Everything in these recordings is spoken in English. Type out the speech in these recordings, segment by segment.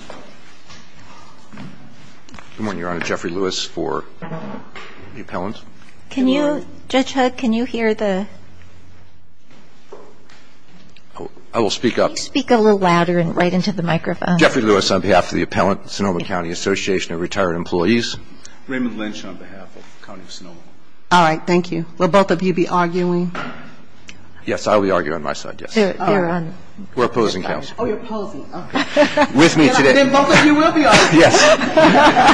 on behalf of the Appellant, Sonoma County Association of Retired Employees, Raymond Lynch on behalf of the County of Sonoma. All right. Thank you. Will both of you be arguing? Yes, I will be arguing on my side. Yes, we're opposing. Oh, you're opposing. With me today, I'm going to be arguing on behalf of the Appellant, Sonoma County Association of Retired Employees. And then both of you will be arguing.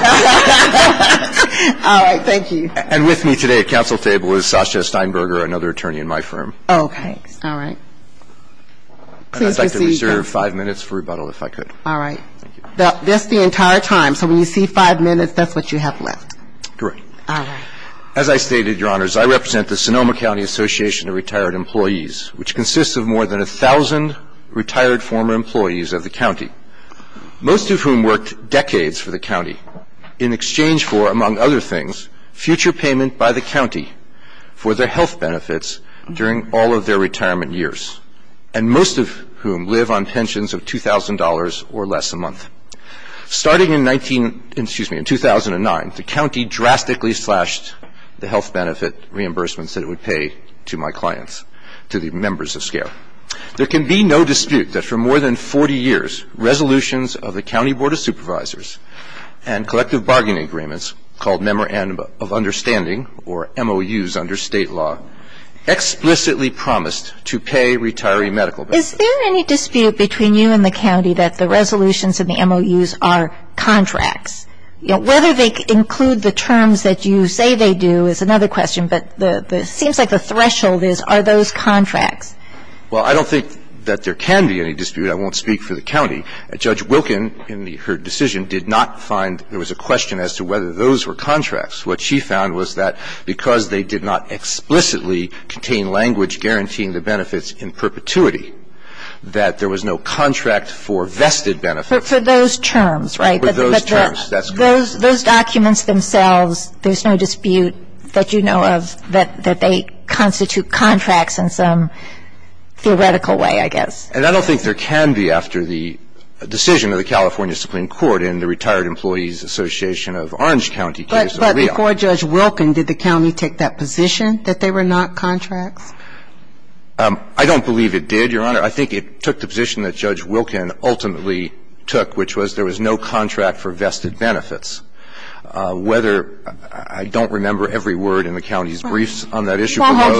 Yes. All right. Thank you. And with me today at council table is Sasha Steinberger, another attorney in my firm. Oh, thanks. All right. Please proceed. And I'd like to reserve five minutes for rebuttal, if I could. All right. That's the entire time. So when you see five minutes, that's what you have left. Correct. All right. As I stated, Your Honors, I represent the Sonoma County Association of Retired Employees, which consists of more than a thousand retired former employees of the county, most of whom worked decades for the county in exchange for, among other things, future payment by the county for their health benefits during all of their retirement years, and most of whom live on pensions of $2,000 or less a month. Starting in 19 — excuse me, in 2009, the county drastically slashed the health benefit reimbursements that it would pay to my clients, to the members of SCARE. There can be no dispute that for more than 40 years, resolutions of the County Board of Supervisors and collective bargaining agreements called Memorandum of Understanding, or MOUs under state law, explicitly promised to pay retiree medical benefits. Is there any dispute between you and the county that the resolutions in the MOUs are contracts? Whether they include the terms that you say they do is another question, but it seems like the threshold is, are those contracts? Well, I don't think that there can be any dispute. I won't speak for the county. Judge Wilkin, in her decision, did not find there was a question as to whether those were contracts. What she found was that because they did not explicitly contain language guaranteeing the benefits in perpetuity, that there was no contract for vested benefits. For those terms, right? For those terms. Those documents themselves, there's no dispute that you know of that they constitute contracts in some theoretical way, I guess. And I don't think there can be after the decision of the California Supreme Court in the Retired Employees Association of Orange County case. But before Judge Wilkin, did the county take that position that they were not contracts? I don't believe it did, Your Honor. I think it took the position that Judge Wilkin ultimately took, which was there was no contract for vested benefits. Whether – I don't remember every word in the county's briefs on that issue. I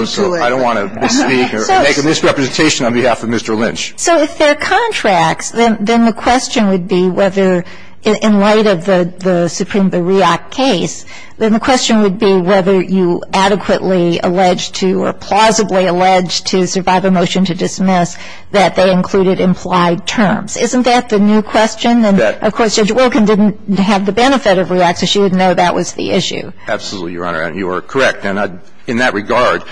don't want to make a misrepresentation on behalf of Mr. Lynch. So if they're contracts, then the question would be whether, in light of the Supreme Bureau case, then the question would be whether you adequately allege to or plausibly allege to Survivor motion to dismiss that they included implied terms. Isn't that the new question? And, of course, Judge Wilkin didn't have the benefit of REAC, so she would know that was the issue. Absolutely, Your Honor. And you are correct. And in that regard,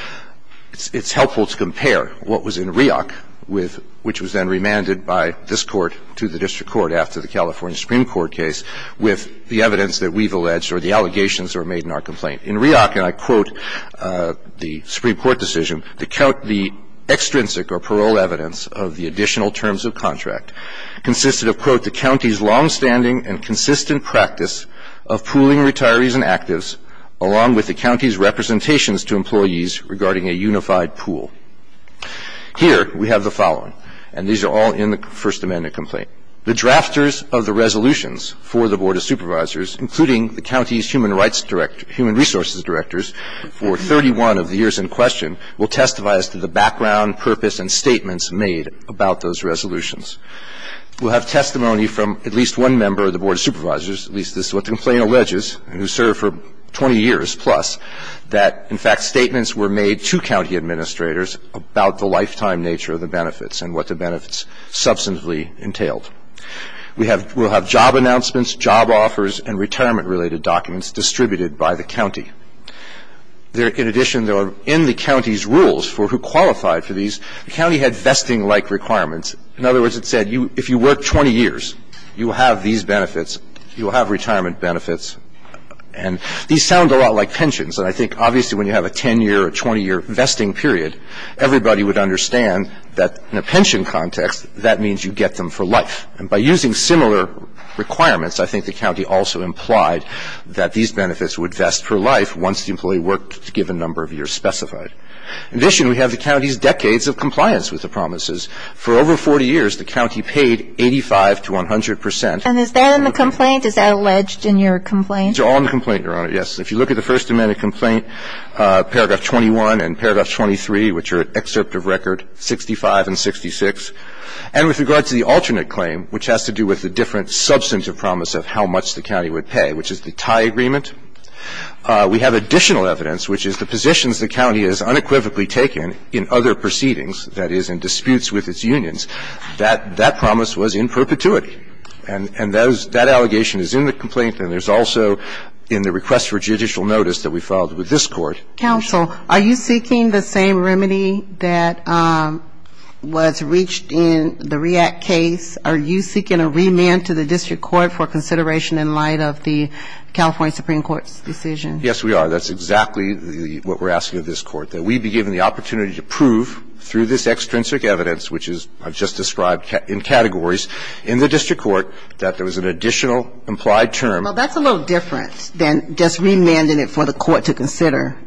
it's helpful to compare what was in REAC, which was then remanded by this Court to the district court after the California Supreme Court case, with the evidence that we've alleged or the allegations that were made in our complaint. In REAC, and I quote the Supreme Court decision, to count the extrinsic or parole evidence of the additional terms of contract consisted of, quote, the county's longstanding and consistent practice of pooling retirees and actives along with the county's representations to employees regarding a unified pool. Here we have the following, and these are all in the First Amendment complaint. The drafters of the resolutions for the Board of Supervisors, including the county's human rights director, human resources directors, for 31 of the years in question will testify as to the background, purpose, and statements made about those resolutions. We'll have testimony from at least one member of the Board of Supervisors, at least as what the complaint alleges, and who served for 20 years plus, that, in fact, statements were made to county administrators about the lifetime nature of the benefits and what the benefits substantively entailed. We'll have job announcements, job offers, and retirement-related documents distributed by the county. In addition, though, in the county's rules for who qualified for these, the county had vesting-like requirements. In other words, it said if you work 20 years, you will have these benefits, you will have retirement benefits. And these sound a lot like pensions, and I think obviously when you have a 10-year or 20-year vesting period, everybody would understand that in a pension context that means you get them for life. And by using similar requirements, I think the county also implied that these benefits would vest for life once the employee worked a given number of years specified. In addition, we have the county's decades of compliance with the promises. For over 40 years, the county paid 85 to 100 percent. And is that in the complaint? Is that alleged in your complaint? It's all in the complaint, Your Honor, yes. If you look at the First Amendment complaint, paragraph 21 and paragraph 23, which are in excerpt of record 65 and 66. And with regard to the alternate claim, which has to do with the different substantive promise of how much the county would pay, which is the tie agreement, we have additional evidence, which is the positions the county has unequivocally taken in other proceedings, that is, in disputes with its unions, that that promise was in perpetuity. And that allegation is in the complaint, and there's also in the request for judicial notice that we filed with this Court. Counsel, are you seeking the same remedy that was reached in the REACT case? Are you seeking a remand to the district court for consideration in light of the California Supreme Court's decision? Yes, we are. That's exactly what we're asking of this Court, that we be given the opportunity to prove through this extrinsic evidence, which I've just described in categories, in the district court, that there was an additional implied term. Well, that's a little different than just remanding it for the court to consider.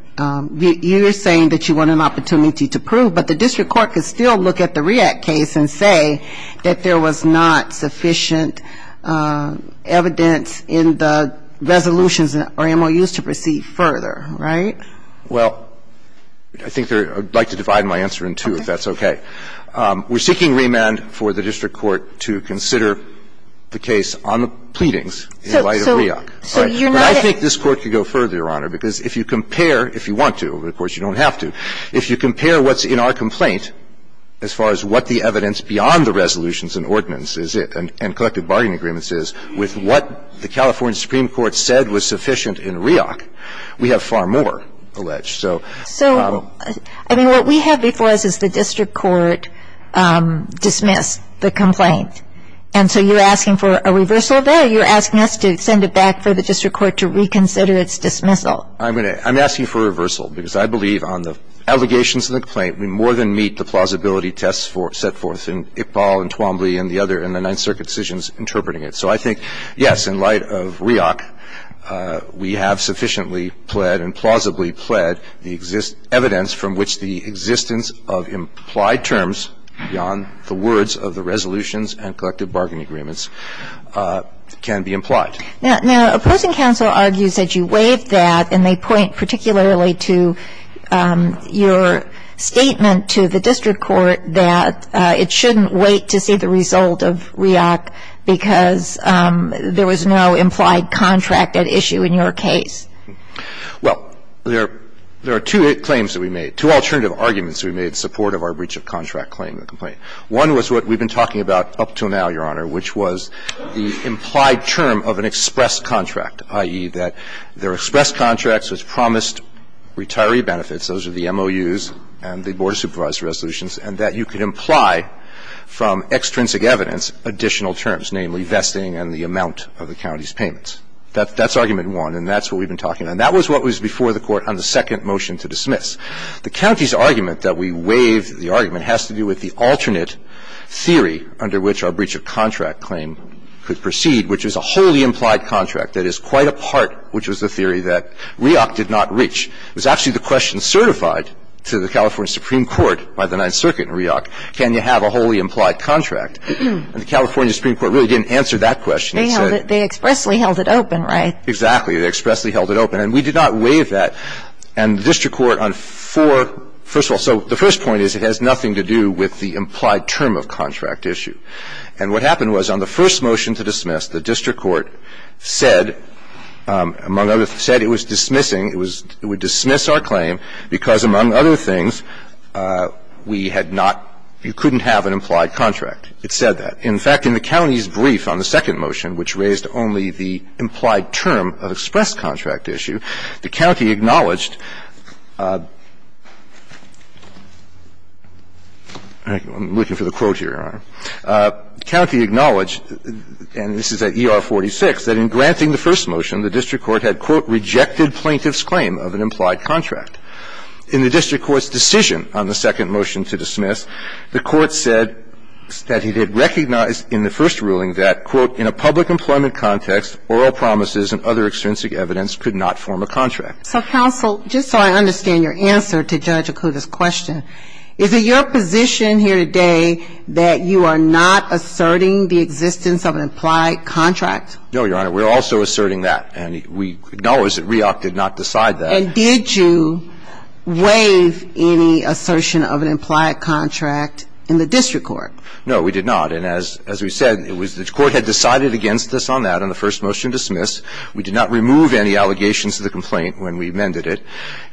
You're saying that you want an opportunity to prove, but the district court could still look at the REACT case and say that there was not sufficient evidence in the resolutions or MOUs to proceed further, right? Well, I think there – I'd like to divide my answer in two, if that's okay. Okay. We're seeking remand for the district court to consider the case on the pleadings in light of REACT. So you're not at – But I think this Court could go further, Your Honor, because if you compare, if you want to, of course you don't have to, if you compare what's in our complaint as far as what the evidence beyond the resolutions and ordinance is and collective bargaining agreements is with what the California Supreme Court said was sufficient in REACT, we have far more alleged. So – So, I mean, what we have before us is the district court dismissed the complaint. And so you're asking for a reversal there? You're asking us to send it back for the district court to reconsider its dismissal. I'm going to – I'm asking for a reversal, because I believe on the allegations in the complaint, we more than meet the plausibility tests set forth in Iqbal and Twombly and the other – and the Ninth Circuit decisions interpreting it. So I think, yes, in light of REACT, we have sufficiently pled and plausibly pled the evidence from which the existence of implied terms beyond the words of the resolutions and collective bargaining agreements can be implied. Now, opposing counsel argues that you waived that, and they point particularly to your statement to the district court that it shouldn't wait to see the result of REACT because there was no implied contract at issue in your case. Well, there are two claims that we made, two alternative arguments that we made in support of our breach-of-contract claim in the complaint. One was what we've been talking about up until now, Your Honor, which was the implied term of an express contract, i.e., that there are express contracts which promised retiree benefits. Those are the MOUs and the Board of Supervisors resolutions, and that you could imply from extrinsic evidence additional terms, namely vesting and the amount of the county's payments. That's argument one, and that's what we've been talking about. And that was what was before the Court on the second motion to dismiss. The county's argument that we waived, the argument has to do with the alternate theory under which our breach-of-contract claim could proceed, which is a wholly implied contract. That is quite a part, which was the theory that REACT did not reach. It was actually the question certified to the California Supreme Court by the Ninth Circuit in REACT, can you have a wholly implied contract? And the California Supreme Court really didn't answer that question. It said they expressly held it open, right? Exactly. They expressly held it open. And we did not waive that. And the district court on four, first of all. So the first point is it has nothing to do with the implied term of contract issue. And what happened was on the first motion to dismiss, the district court said, among other things, said it was dismissing, it was, it would dismiss our claim because, among other things, we had not, you couldn't have an implied contract. It said that. In fact, in the county's brief on the second motion, which raised only the implied term of express contract issue, the county acknowledged, I'm looking for the quote here, Your Honor, the county acknowledged, and this is at ER-46, that in granting the first motion, the district court had, quote, rejected plaintiff's claim of an implied contract. In the district court's decision on the second motion to dismiss, the court said that it had recognized in the first ruling that, quote, in a public employment context, oral promises and other extrinsic evidence could not form a contract. So, counsel, just so I understand your answer to Judge Akuta's question, is it your position here today that you are not asserting the existence of an implied contract? No, Your Honor. We're also asserting that. And we acknowledge that REAC did not decide that. And did you waive any assertion of an implied contract in the district court? No, we did not. And as we said, it was the court had decided against us on that in the first motion to dismiss. We did not remove any allegations to the complaint when we amended it.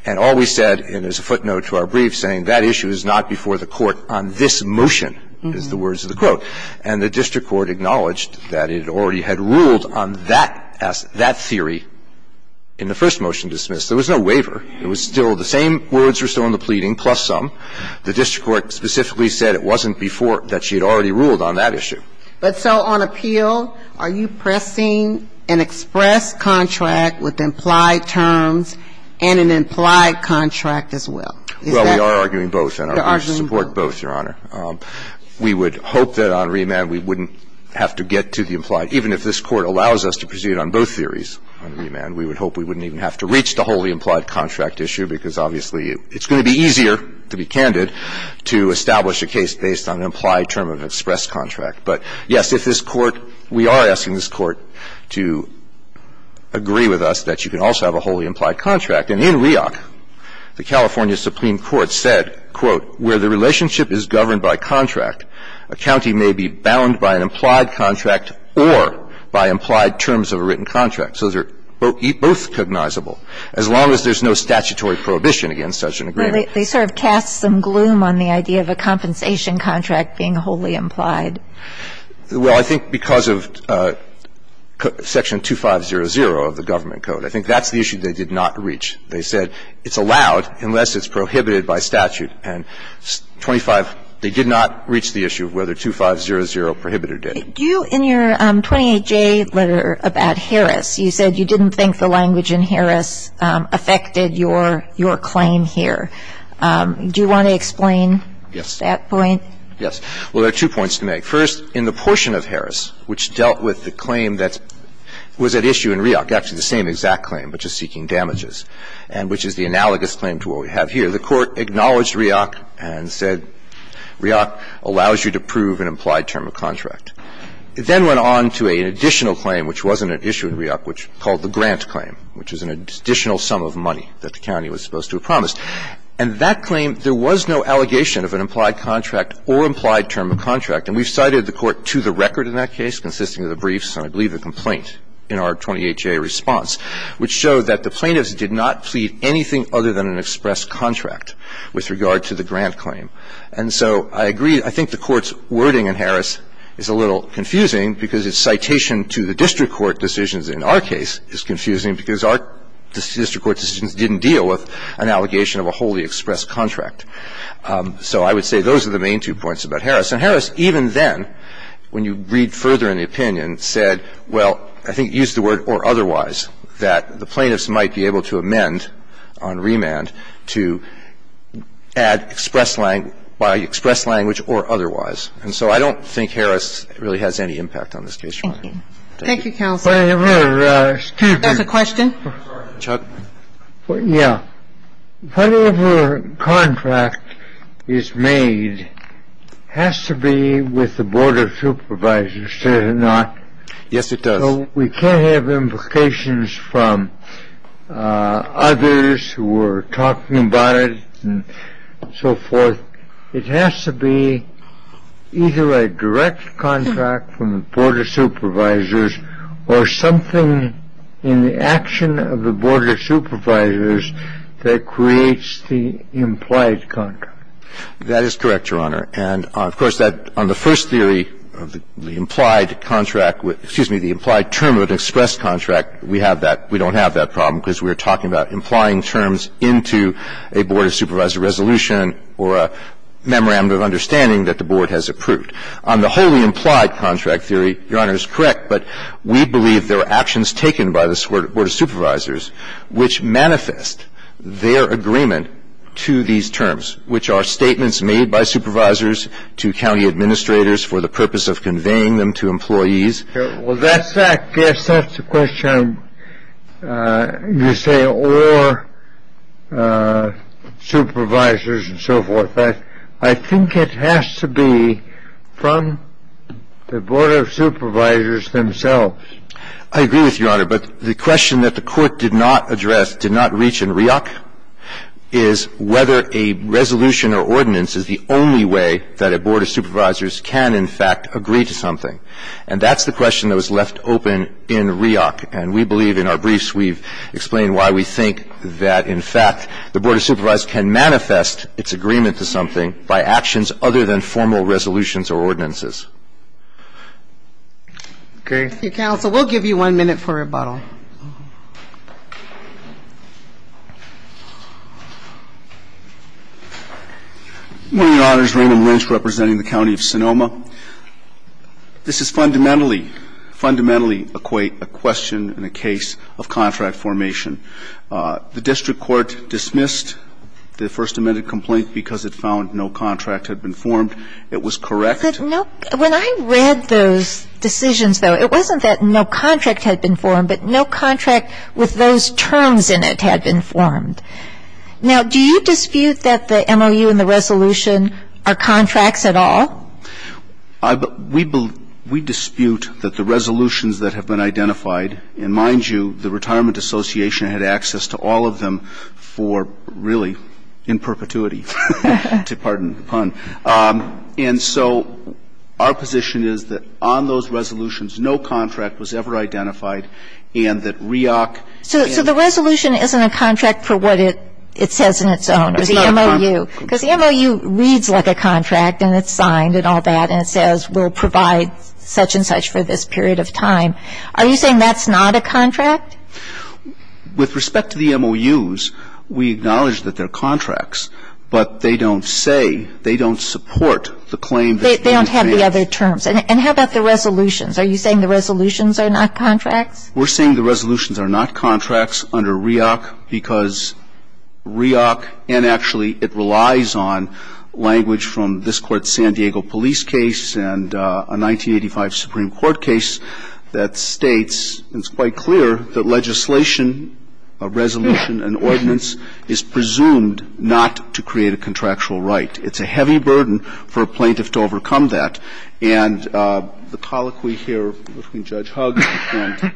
And all we said, and there's a footnote to our brief saying, that issue is not before the court on this motion, is the words of the quote. And the district court acknowledged that it already had ruled on that theory in the first motion dismissed. There was no waiver. It was still the same words were still in the pleading, plus some. The district court specifically said it wasn't before, that she had already ruled on that issue. But so on appeal, are you pressing an express contract with implied terms and an implied contract as well? Well, we are arguing both, and I would support both, Your Honor. We would hope that on remand we wouldn't have to get to the implied. Even if this Court allows us to proceed on both theories on remand, we would hope we wouldn't even have to reach the wholly implied contract issue because obviously there's no reason for you. It's going to be easier, to be candid, to establish a case based on an implied term of express contract. But, yes, if this Court, we are asking this Court to agree with us that you can also have a wholly implied contract. And in REOC, the California Supreme Court said, quote, where the relationship is governed by contract, a county may be bound by an implied contract or by implied terms of a written contract. So those are both cognizable, as long as there's no statutory prohibition against such an agreement. Well, they sort of cast some gloom on the idea of a compensation contract being a wholly implied. Well, I think because of Section 2500 of the government code, I think that's the issue they did not reach. They said it's allowed unless it's prohibited by statute. And 25, they did not reach the issue of whether 2500 prohibited it. Do you, in your 28J letter about Harris, you said you didn't think the language in Harris affected your claim here. Do you want to explain that point? Yes. Well, there are two points to make. First, in the portion of Harris which dealt with the claim that was at issue in REOC, actually the same exact claim, but just seeking damages, and which is the analogous claim to what we have here, the Court acknowledged REOC and said REOC allows you to prove an implied term of contract. It then went on to an additional claim, which wasn't at issue in REOC, which is called the grant claim, which is an additional sum of money that the county was supposed to have promised. And that claim, there was no allegation of an implied contract or implied term of contract. And we've cited the Court to the record in that case, consisting of the briefs and I believe the complaint in our 28J response, which showed that the plaintiffs did not plead anything other than an express contract with regard to the grant claim. And so I agree. I think the Court's wording in Harris is a little confusing because its citation to the district court decisions in our case is confusing because our district court decisions didn't deal with an allegation of a wholly expressed contract. So I would say those are the main two points about Harris. And Harris, even then, when you read further in the opinion, said, well, I think used the word or otherwise, that the plaintiffs might be able to amend on remand to add express language or otherwise. And so I don't think Harris really has any impact on this case. Thank you. Thank you, counsel. Excuse me. There's a question. Chuck. Yeah. Whatever contract is made has to be with the board of supervisors, does it not? Yes, it does. We can't have implications from others who are talking about it and so forth. It has to be either a direct contract from the board of supervisors or something in the action of the board of supervisors that creates the implied contract. That is correct, Your Honor. And, of course, on the first theory of the implied contract, excuse me, the implied term of an expressed contract, we have that. We don't have that problem because we are talking about implying terms into a board of supervisor resolution or a memorandum of understanding that the board has approved. On the wholly implied contract theory, Your Honor, it's correct, but we believe there are actions taken by the board of supervisors which manifest their agreement to these terms, which are statements made by supervisors to county administrators for the purpose of conveying them to employees. Well, that's that. Yes, that's the question. You say or supervisors and so forth. I think it has to be from the board of supervisors themselves. I agree with you, Your Honor, but the question that the court did not address, did not reach in REIOC, is whether a resolution or ordinance is the only way that a board of supervisors can, in fact, agree to something. And that's the question that was left open in REIOC, and we believe in our briefs we've explained why we think that, in fact, the board of supervisors can manifest its agreement to something by actions other than formal resolutions or ordinances. Okay. Counsel, we'll give you one minute for rebuttal. Go ahead. One minute. One minute, Your Honor. This is Raymond Lynch representing the county of Sonoma. This is fundamentally, fundamentally a question in a case of contract formation. The district court dismissed the First Amendment complaint because it found no contract had been formed. It was correct. When I read those decisions, though, it wasn't that no contract had been formed, but no contract with those terms in it had been formed. Now, do you dispute that the MOU and the resolution are contracts at all? We dispute that the resolutions that have been identified, and mind you, the Retirement Association had access to all of them for, really, in perpetuity, to pardon the pun. And so our position is that on those resolutions, no contract was ever identified and that REAC and the others. So the resolution isn't a contract for what it says in its own, or the MOU. Because the MOU reads like a contract and it's signed and all that, and it says we'll provide such and such for this period of time. Are you saying that's not a contract? With respect to the MOUs, we acknowledge that they're contracts, but they don't say they don't support the claim. They don't have the other terms. And how about the resolutions? Are you saying the resolutions are not contracts? We're saying the resolutions are not contracts under REAC because REAC, and actually it relies on language from this Court's San Diego police case and a 1985 Supreme Court case that states, and it's quite clear, that legislation, a resolution, an ordinance, is presumed not to create a contractual right. It's a heavy burden for a plaintiff to overcome that. And the colloquy here between Judge Hugg and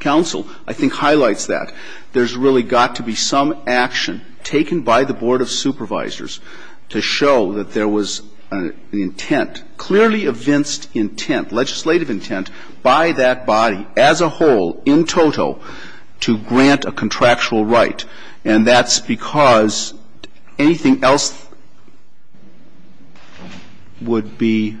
counsel I think highlights that. There's really got to be some action taken by the Board of Supervisors to show that there was an intent, clearly a vinced intent, legislative intent, by that body as a whole, in total, to grant a contractual right. And that's because anything else would be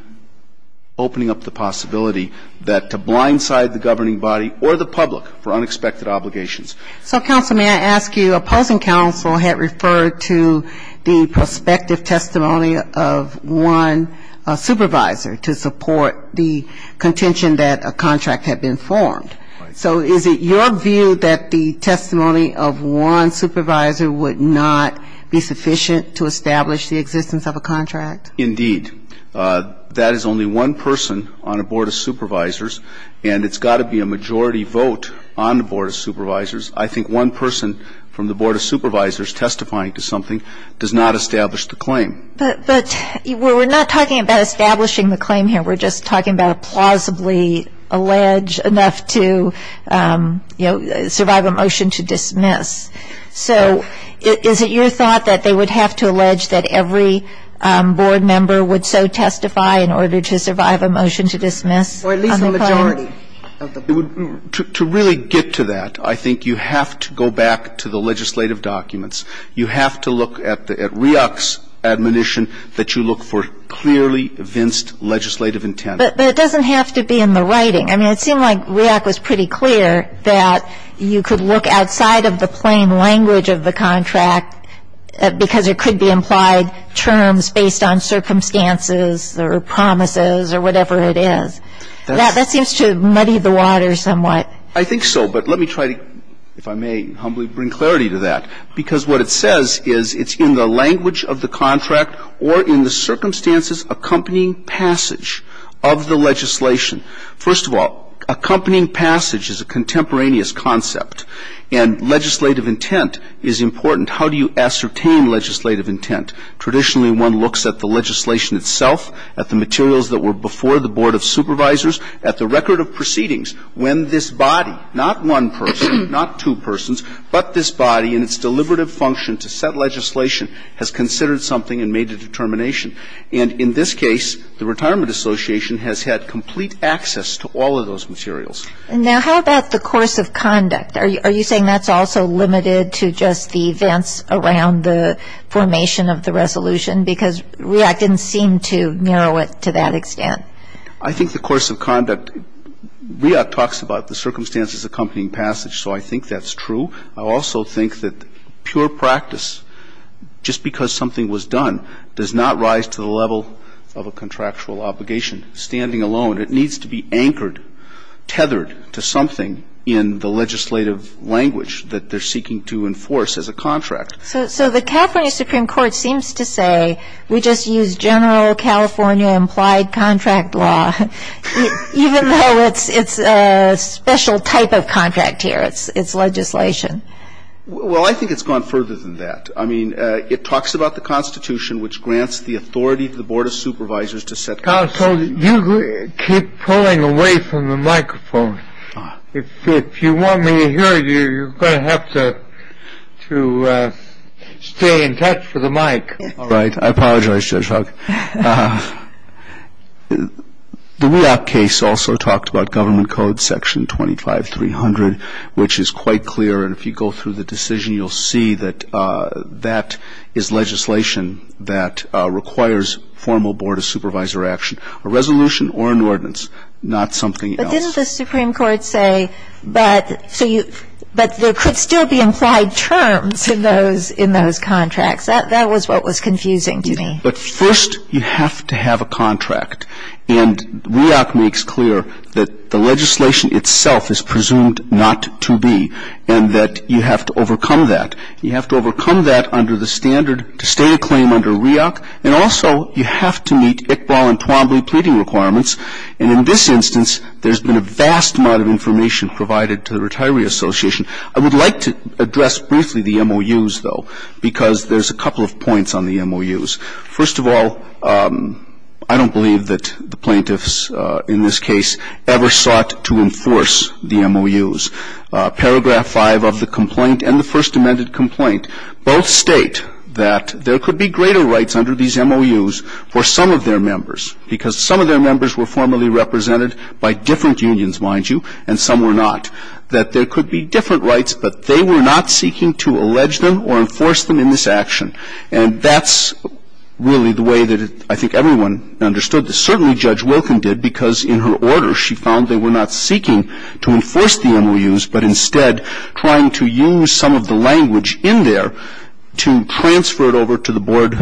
opening up the possibility that to blindside the governing body or the public for unexpected obligations. So, counsel, may I ask you, opposing counsel had referred to the prospective testimony of one supervisor to support the contention that a contract had been formed. So is it your view that the testimony of one supervisor would not be sufficient to establish the existence of a contract? Indeed. That is only one person on a Board of Supervisors, and it's got to be a majority vote on the Board of Supervisors. I think one person from the Board of Supervisors testifying to something does not establish the claim. But we're not talking about establishing the claim here. We're just talking about plausibly allege enough to, you know, survive a motion to dismiss. So is it your thought that they would have to allege that every Board member would so testify in order to survive a motion to dismiss on the claim? Or at least the majority of the Board. To really get to that, I think you have to go back to the legislative documents. You have to look at the REAC's admonition that you look for clearly vinced legislative intent. But it doesn't have to be in the writing. I mean, it seemed like REAC was pretty clear that you could look outside of the plain language of the contract because there could be implied terms based on circumstances or promises or whatever it is. That seems to muddy the water somewhat. I think so. But let me try to, if I may humbly bring clarity to that. Because what it says is it's in the language of the contract or in the circumstances accompanying passage of the legislation. First of all, accompanying passage is a contemporaneous concept. And legislative intent is important. How do you ascertain legislative intent? Traditionally, one looks at the legislation itself, at the materials that were before the Board of Supervisors, at the record of proceedings, when this body, not one person, not two persons, but this body in its deliberative function to set legislation has considered something and made a determination. And in this case, the Retirement Association has had complete access to all of those materials. Now, how about the course of conduct? Are you saying that's also limited to just the events around the formation of the resolution? Because REAC didn't seem to narrow it to that extent. I think the course of conduct, REAC talks about the circumstances accompanying passage, so I think that's true. I also think that pure practice, just because something was done, does not rise to the level of a contractual obligation. Standing alone, it needs to be anchored, tethered to something in the legislative language that they're seeking to enforce as a contract. So the California Supreme Court seems to say we just use general California implied contract law, even though it's a special type of contract here. It's legislation. Well, I think it's gone further than that. I mean, it talks about the Constitution, which grants the authority to the Board of Supervisors to set Counsel, you keep pulling away from the microphone. If you want me to hear you, you're going to have to stay in touch with the mic. All right. I apologize, Judge Huck. The REAC case also talked about Government Code Section 25300, which is quite clear and if you go through the decision, you'll see that that is legislation that requires formal Board of Supervisor action, a resolution or an ordinance, not something else. But didn't the Supreme Court say that there could still be implied terms in those contracts? That was what was confusing to me. But first, you have to have a contract, and REAC makes clear that the legislation itself is presumed not to be, and that you have to overcome that. You have to overcome that under the standard to stay a claim under REAC, and also you have to meet Iqbal and Twombly pleading requirements. And in this instance, there's been a vast amount of information provided to the Retiree Association. I would like to address briefly the MOUs, though, because there's a couple of points on the MOUs. First of all, I don't believe that the plaintiffs in this case ever sought to enforce the MOUs. Paragraph 5 of the complaint and the First Amendment complaint both state that there could be greater rights under these MOUs for some of their members, because some of their members were formally represented by different unions, mind you, and some were not, that there could be different rights, but they were not seeking to allege them or enforce them in this action. And that's really the way that I think everyone understood this. Certainly Judge Wilkin did, because in her order she found they were not seeking to enforce the MOUs, but instead trying to use some of the language in there to transfer it over to the board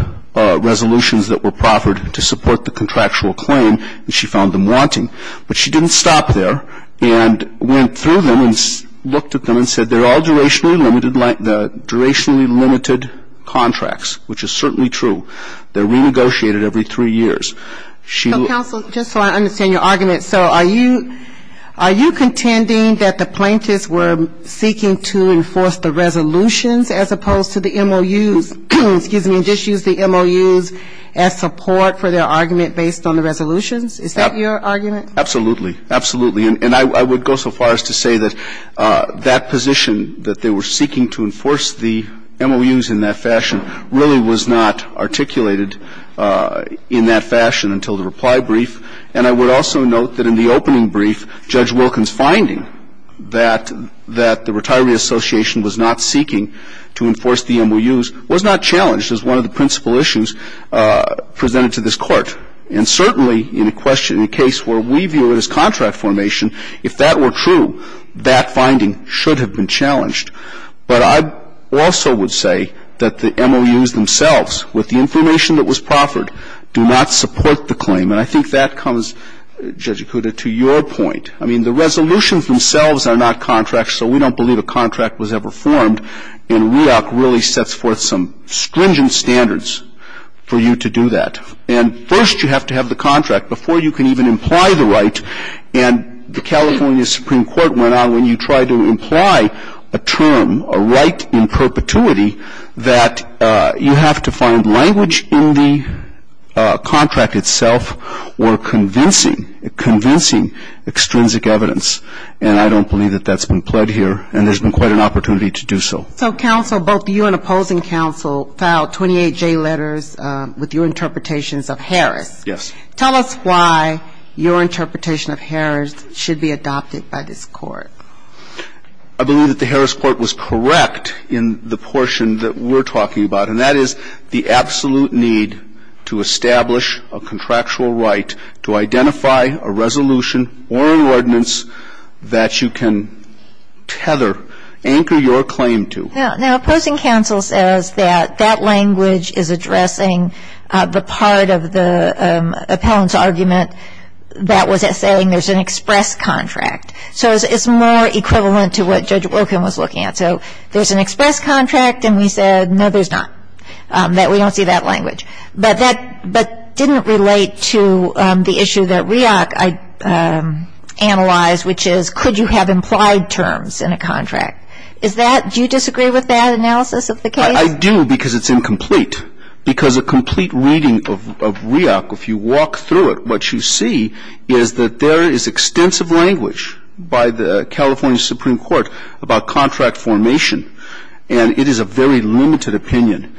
resolutions that were proffered to support the contractual claim, and she found them wanting. But she didn't stop there and went through them and looked at them and said, they're all durationally limited, durationally limited contracts, which is certainly true. They're renegotiated every three years. So counsel, just so I understand your argument, so are you contending that the plaintiffs were seeking to enforce the resolutions as opposed to the MOUs, excuse me, and just use the MOUs as support for their argument based on the resolutions? Is that your argument? Absolutely. Absolutely. And I would go so far as to say that that position that they were seeking to enforce the MOUs in that fashion really was not articulated in that fashion until the reply brief, and I would also note that in the opening brief, Judge Wilkin's finding that the Retiree Association was not seeking to enforce the MOUs was not challenged as one of the principal issues presented to this Court. And certainly in a case where we view it as contract formation, if that were true, that finding should have been challenged. But I also would say that the MOUs themselves, with the information that was proffered, do not support the claim, and I think that comes, Judge Ikuda, to your point. I mean, the resolutions themselves are not contracts, so we don't believe a contract was ever formed, and REOC really sets forth some stringent standards for you to do that. And first you have to have the contract before you can even imply the right, and the California Supreme Court went on when you tried to imply a term, a right in perpetuity, that you have to find language in the contract itself or convincing, convincing extrinsic evidence. And I don't believe that that's been pled here, and there's been quite an opportunity to do so. So counsel, both you and opposing counsel filed 28J letters with your interpretations of Harris. Yes. Tell us why your interpretation of Harris should be adopted by this Court. I believe that the Harris Court was correct in the portion that we're talking about, and that is the absolute need to establish a contractual right to identify a resolution or an ordinance that you can tether, anchor your claim to. Now, opposing counsel says that that language is addressing the part of the appellant's argument that was saying there's an express contract. So it's more equivalent to what Judge Wilkin was looking at. So there's an express contract, and we said, no, there's not, that we don't see that language. But that didn't relate to the issue that REAC analyzed, which is could you have implied terms in a contract. Is that, do you disagree with that analysis of the case? I do because it's incomplete. Because a complete reading of REAC, if you walk through it, what you see is that there is extensive language by the California Supreme Court about contract formation, and it is a very limited opinion.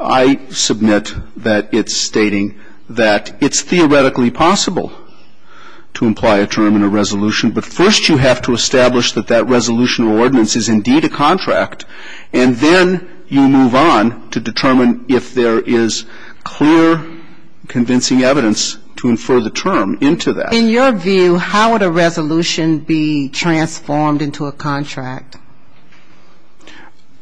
I submit that it's stating that it's theoretically possible to imply a term in a resolution, but first you have to establish that that resolution or ordinance is indeed a contract, and then you move on to determine if there is clear, convincing evidence to infer the term into that. In your view, how would a resolution be transformed into a contract?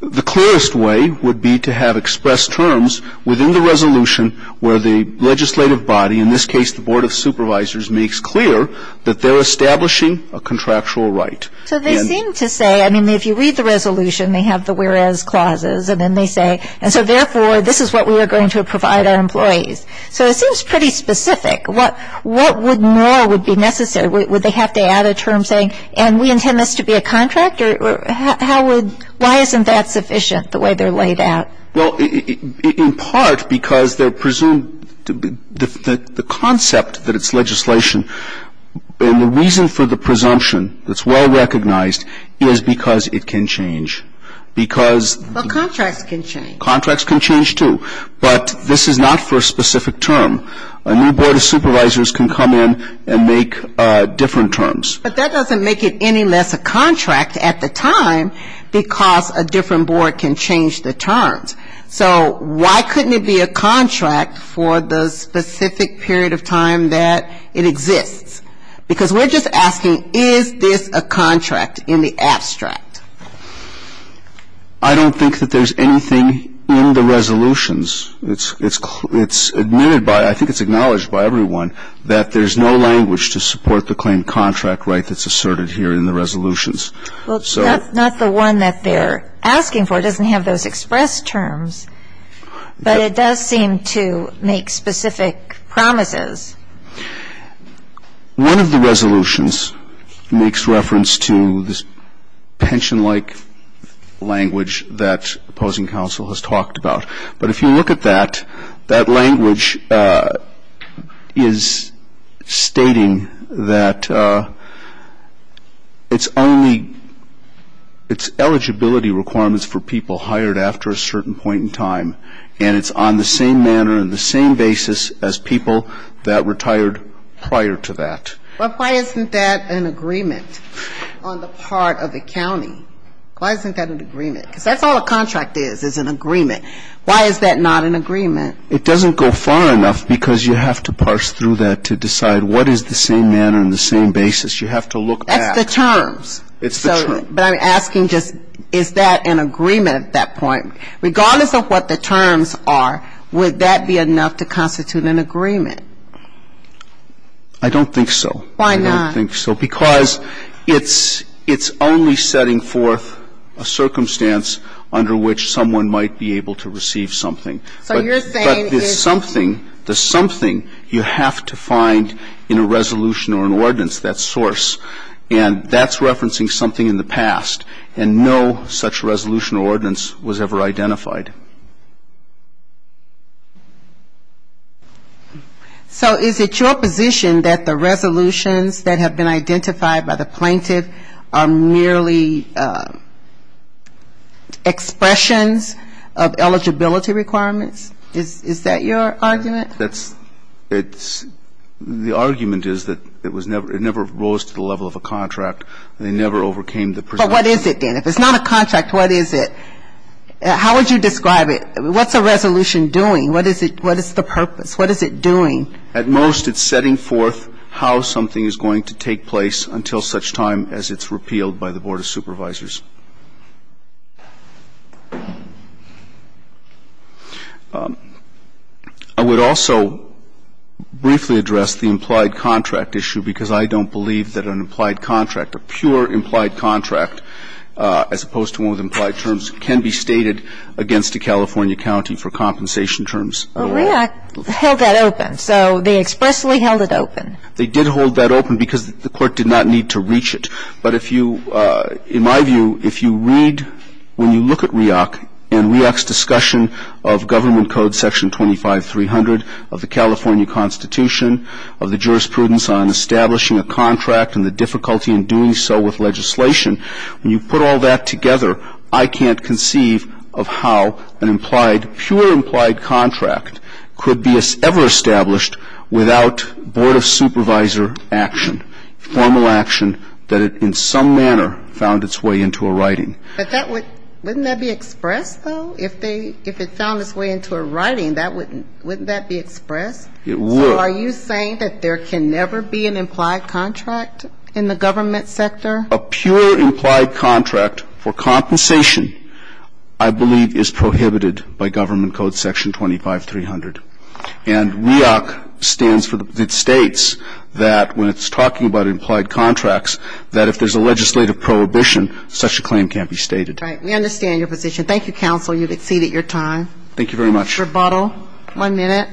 The clearest way would be to have expressed terms within the resolution where the legislative body, in this case the Board of Supervisors, makes clear that they're establishing a contractual right. So they seem to say, I mean, if you read the resolution, they have the whereas clauses, and then they say, and so therefore this is what we are going to provide our employees. So it seems pretty specific. What more would be necessary? Would they have to add a term saying, and we intend this to be a contract? Or how would, why isn't that sufficient, the way they're laid out? Well, in part, because they're presumed, the concept that it's legislation, and the reason for the presumption that's well recognized is because it can change. Because Well, contracts can change. Contracts can change, too. But this is not for a specific term. A new Board of Supervisors can come in and make different terms. But that doesn't make it any less a contract at the time because a different board can change the terms. So why couldn't it be a contract for the specific period of time that it exists? Because we're just asking, is this a contract in the abstract? I don't think that there's anything in the resolutions. It's admitted by, I think it's acknowledged by everyone, that there's no language to support the claim contract right that's asserted here in the resolutions. Well, it's not the one that they're asking for. It doesn't have those express terms. But it does seem to make specific promises. One of the resolutions makes reference to this pension-like language that opposing counsel has talked about. But if you look at that, that language is stating that it's only eligibility requirements for people hired after a certain point in time. And it's on the same manner and the same basis as people that retired prior to that. Well, why isn't that an agreement on the part of the county? Why isn't that an agreement? Because that's all a contract is, is an agreement. Why is that not an agreement? It doesn't go far enough because you have to parse through that to decide what is the same manner and the same basis. You have to look back. That's the terms. It's the terms. But I'm asking just, is that an agreement at that point? Regardless of what the terms are, would that be enough to constitute an agreement? I don't think so. Why not? I don't think so. Because it's only setting forth a circumstance under which someone might be able to receive something. But the something, the something, you have to find in a resolution or an ordinance, that source. And that's referencing something in the past. And no such resolution or ordinance was ever identified. So is it your position that the resolutions that have been identified by the plaintiff are merely expressions of eligibility requirements? Is that your argument? That's, it's, the argument is that it was never, it never rose to the level of a contract. They never overcame the presumption. But what is it then? If it's not a contract, what is it? How would you describe it? What's a resolution doing? What is it, what is the purpose? What is it doing? At most, it's setting forth how something is going to take place until such time as it's repealed by the Board of Supervisors. I would also briefly address the implied contract issue because I don't believe that an implied contract, a pure implied contract, as opposed to one with implied terms, can be stated against a California county for compensation terms. But REAC held that open. So they expressly held it open. They did hold that open because the Court did not need to reach it. But if you, in my view, if you read, when you look at REAC and REAC's discussion of Government Code Section 25300 of the California Constitution, of the jurisprudence on establishing a contract and the difficulty in doing so with legislation, when you put all that together, I can't conceive of how an implied, pure implied contract could be ever established without Board of Supervisor action, formal action that it in some manner found its way into a writing. But that would, wouldn't that be expressed, though? If they, if it found its way into a writing, that wouldn't, wouldn't that be expressed? It would. So are you saying that there can never be an implied contract in the government sector? A pure implied contract for compensation, I believe, is prohibited by Government Code Section 25300. And REAC stands for, it states that when it's talking about implied contracts, that if there's a legislative prohibition, such a claim can't be stated. Right. We understand your position. Thank you, counsel. You've exceeded your time. Thank you very much. Rebuttal. One minute.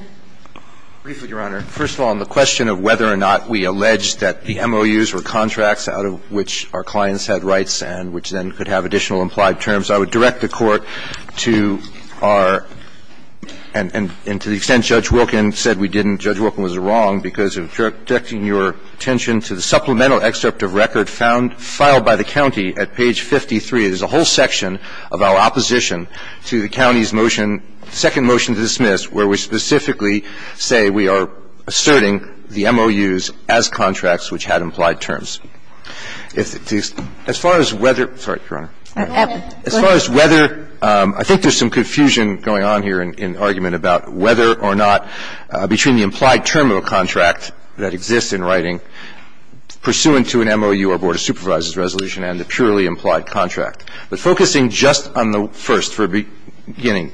Briefly, Your Honor. First of all, on the question of whether or not we allege that the MOUs were contracts out of which our clients had rights and which then could have additional implied terms, I would direct the Court to our, and to the extent Judge Wilkin said we didn't, Judge Wilkin was wrong, because in directing your attention to the supplemental excerpt of record found, filed by the county at page 53, there's a whole section of our opposition to the county's motion, second motion to dismiss, where we specifically say we are asserting the MOUs as contracts which had implied terms. As far as whether – sorry, Your Honor. As far as whether – I think there's some confusion going on here in argument about whether or not between the implied term of a contract that exists in writing pursuant to an MOU or Board of Supervisors resolution and a purely implied contract. But focusing just on the first for a beginning,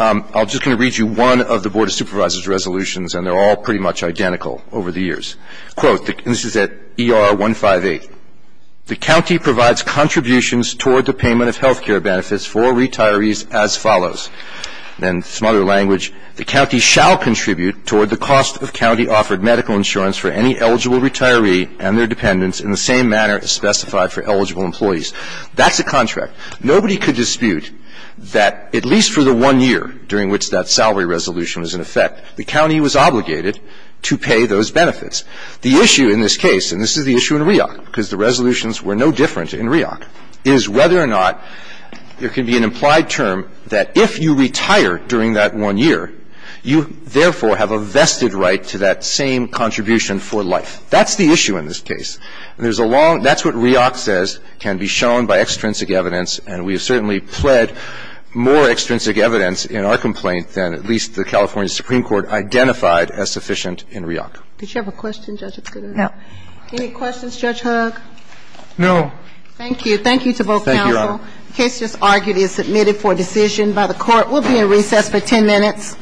I'm just going to read you one of the Board of Supervisors resolutions, and they're all pretty much identical over the years. Quote, and this is at ER 158. The county provides contributions toward the payment of health care benefits for retirees as follows. Then some other language. The county shall contribute toward the cost of county-offered medical insurance for any eligible retiree and their dependents in the same manner as specified for eligible employees. That's a contract. Nobody could dispute that, at least for the one year during which that salary resolution is in effect, the county was obligated to pay those benefits. The issue in this case, and this is the issue in REOC, because the resolutions were no different in REOC, is whether or not there can be an implied term that if you retire during that one year, you therefore have a vested right to that same contribution for life. That's the issue in this case. And there's a long – that's what REOC says can be shown by extrinsic evidence, and we have certainly pled more extrinsic evidence in our complaint than at least the California Supreme Court identified as sufficient in REOC. Did you have a question, Judge? No. Any questions? Judge Hugg? No. Thank you. Thank you to both counsel. Thank you, Your Honor. The case just argued is submitted for decision by the Court. We'll be in recess for 10 minutes.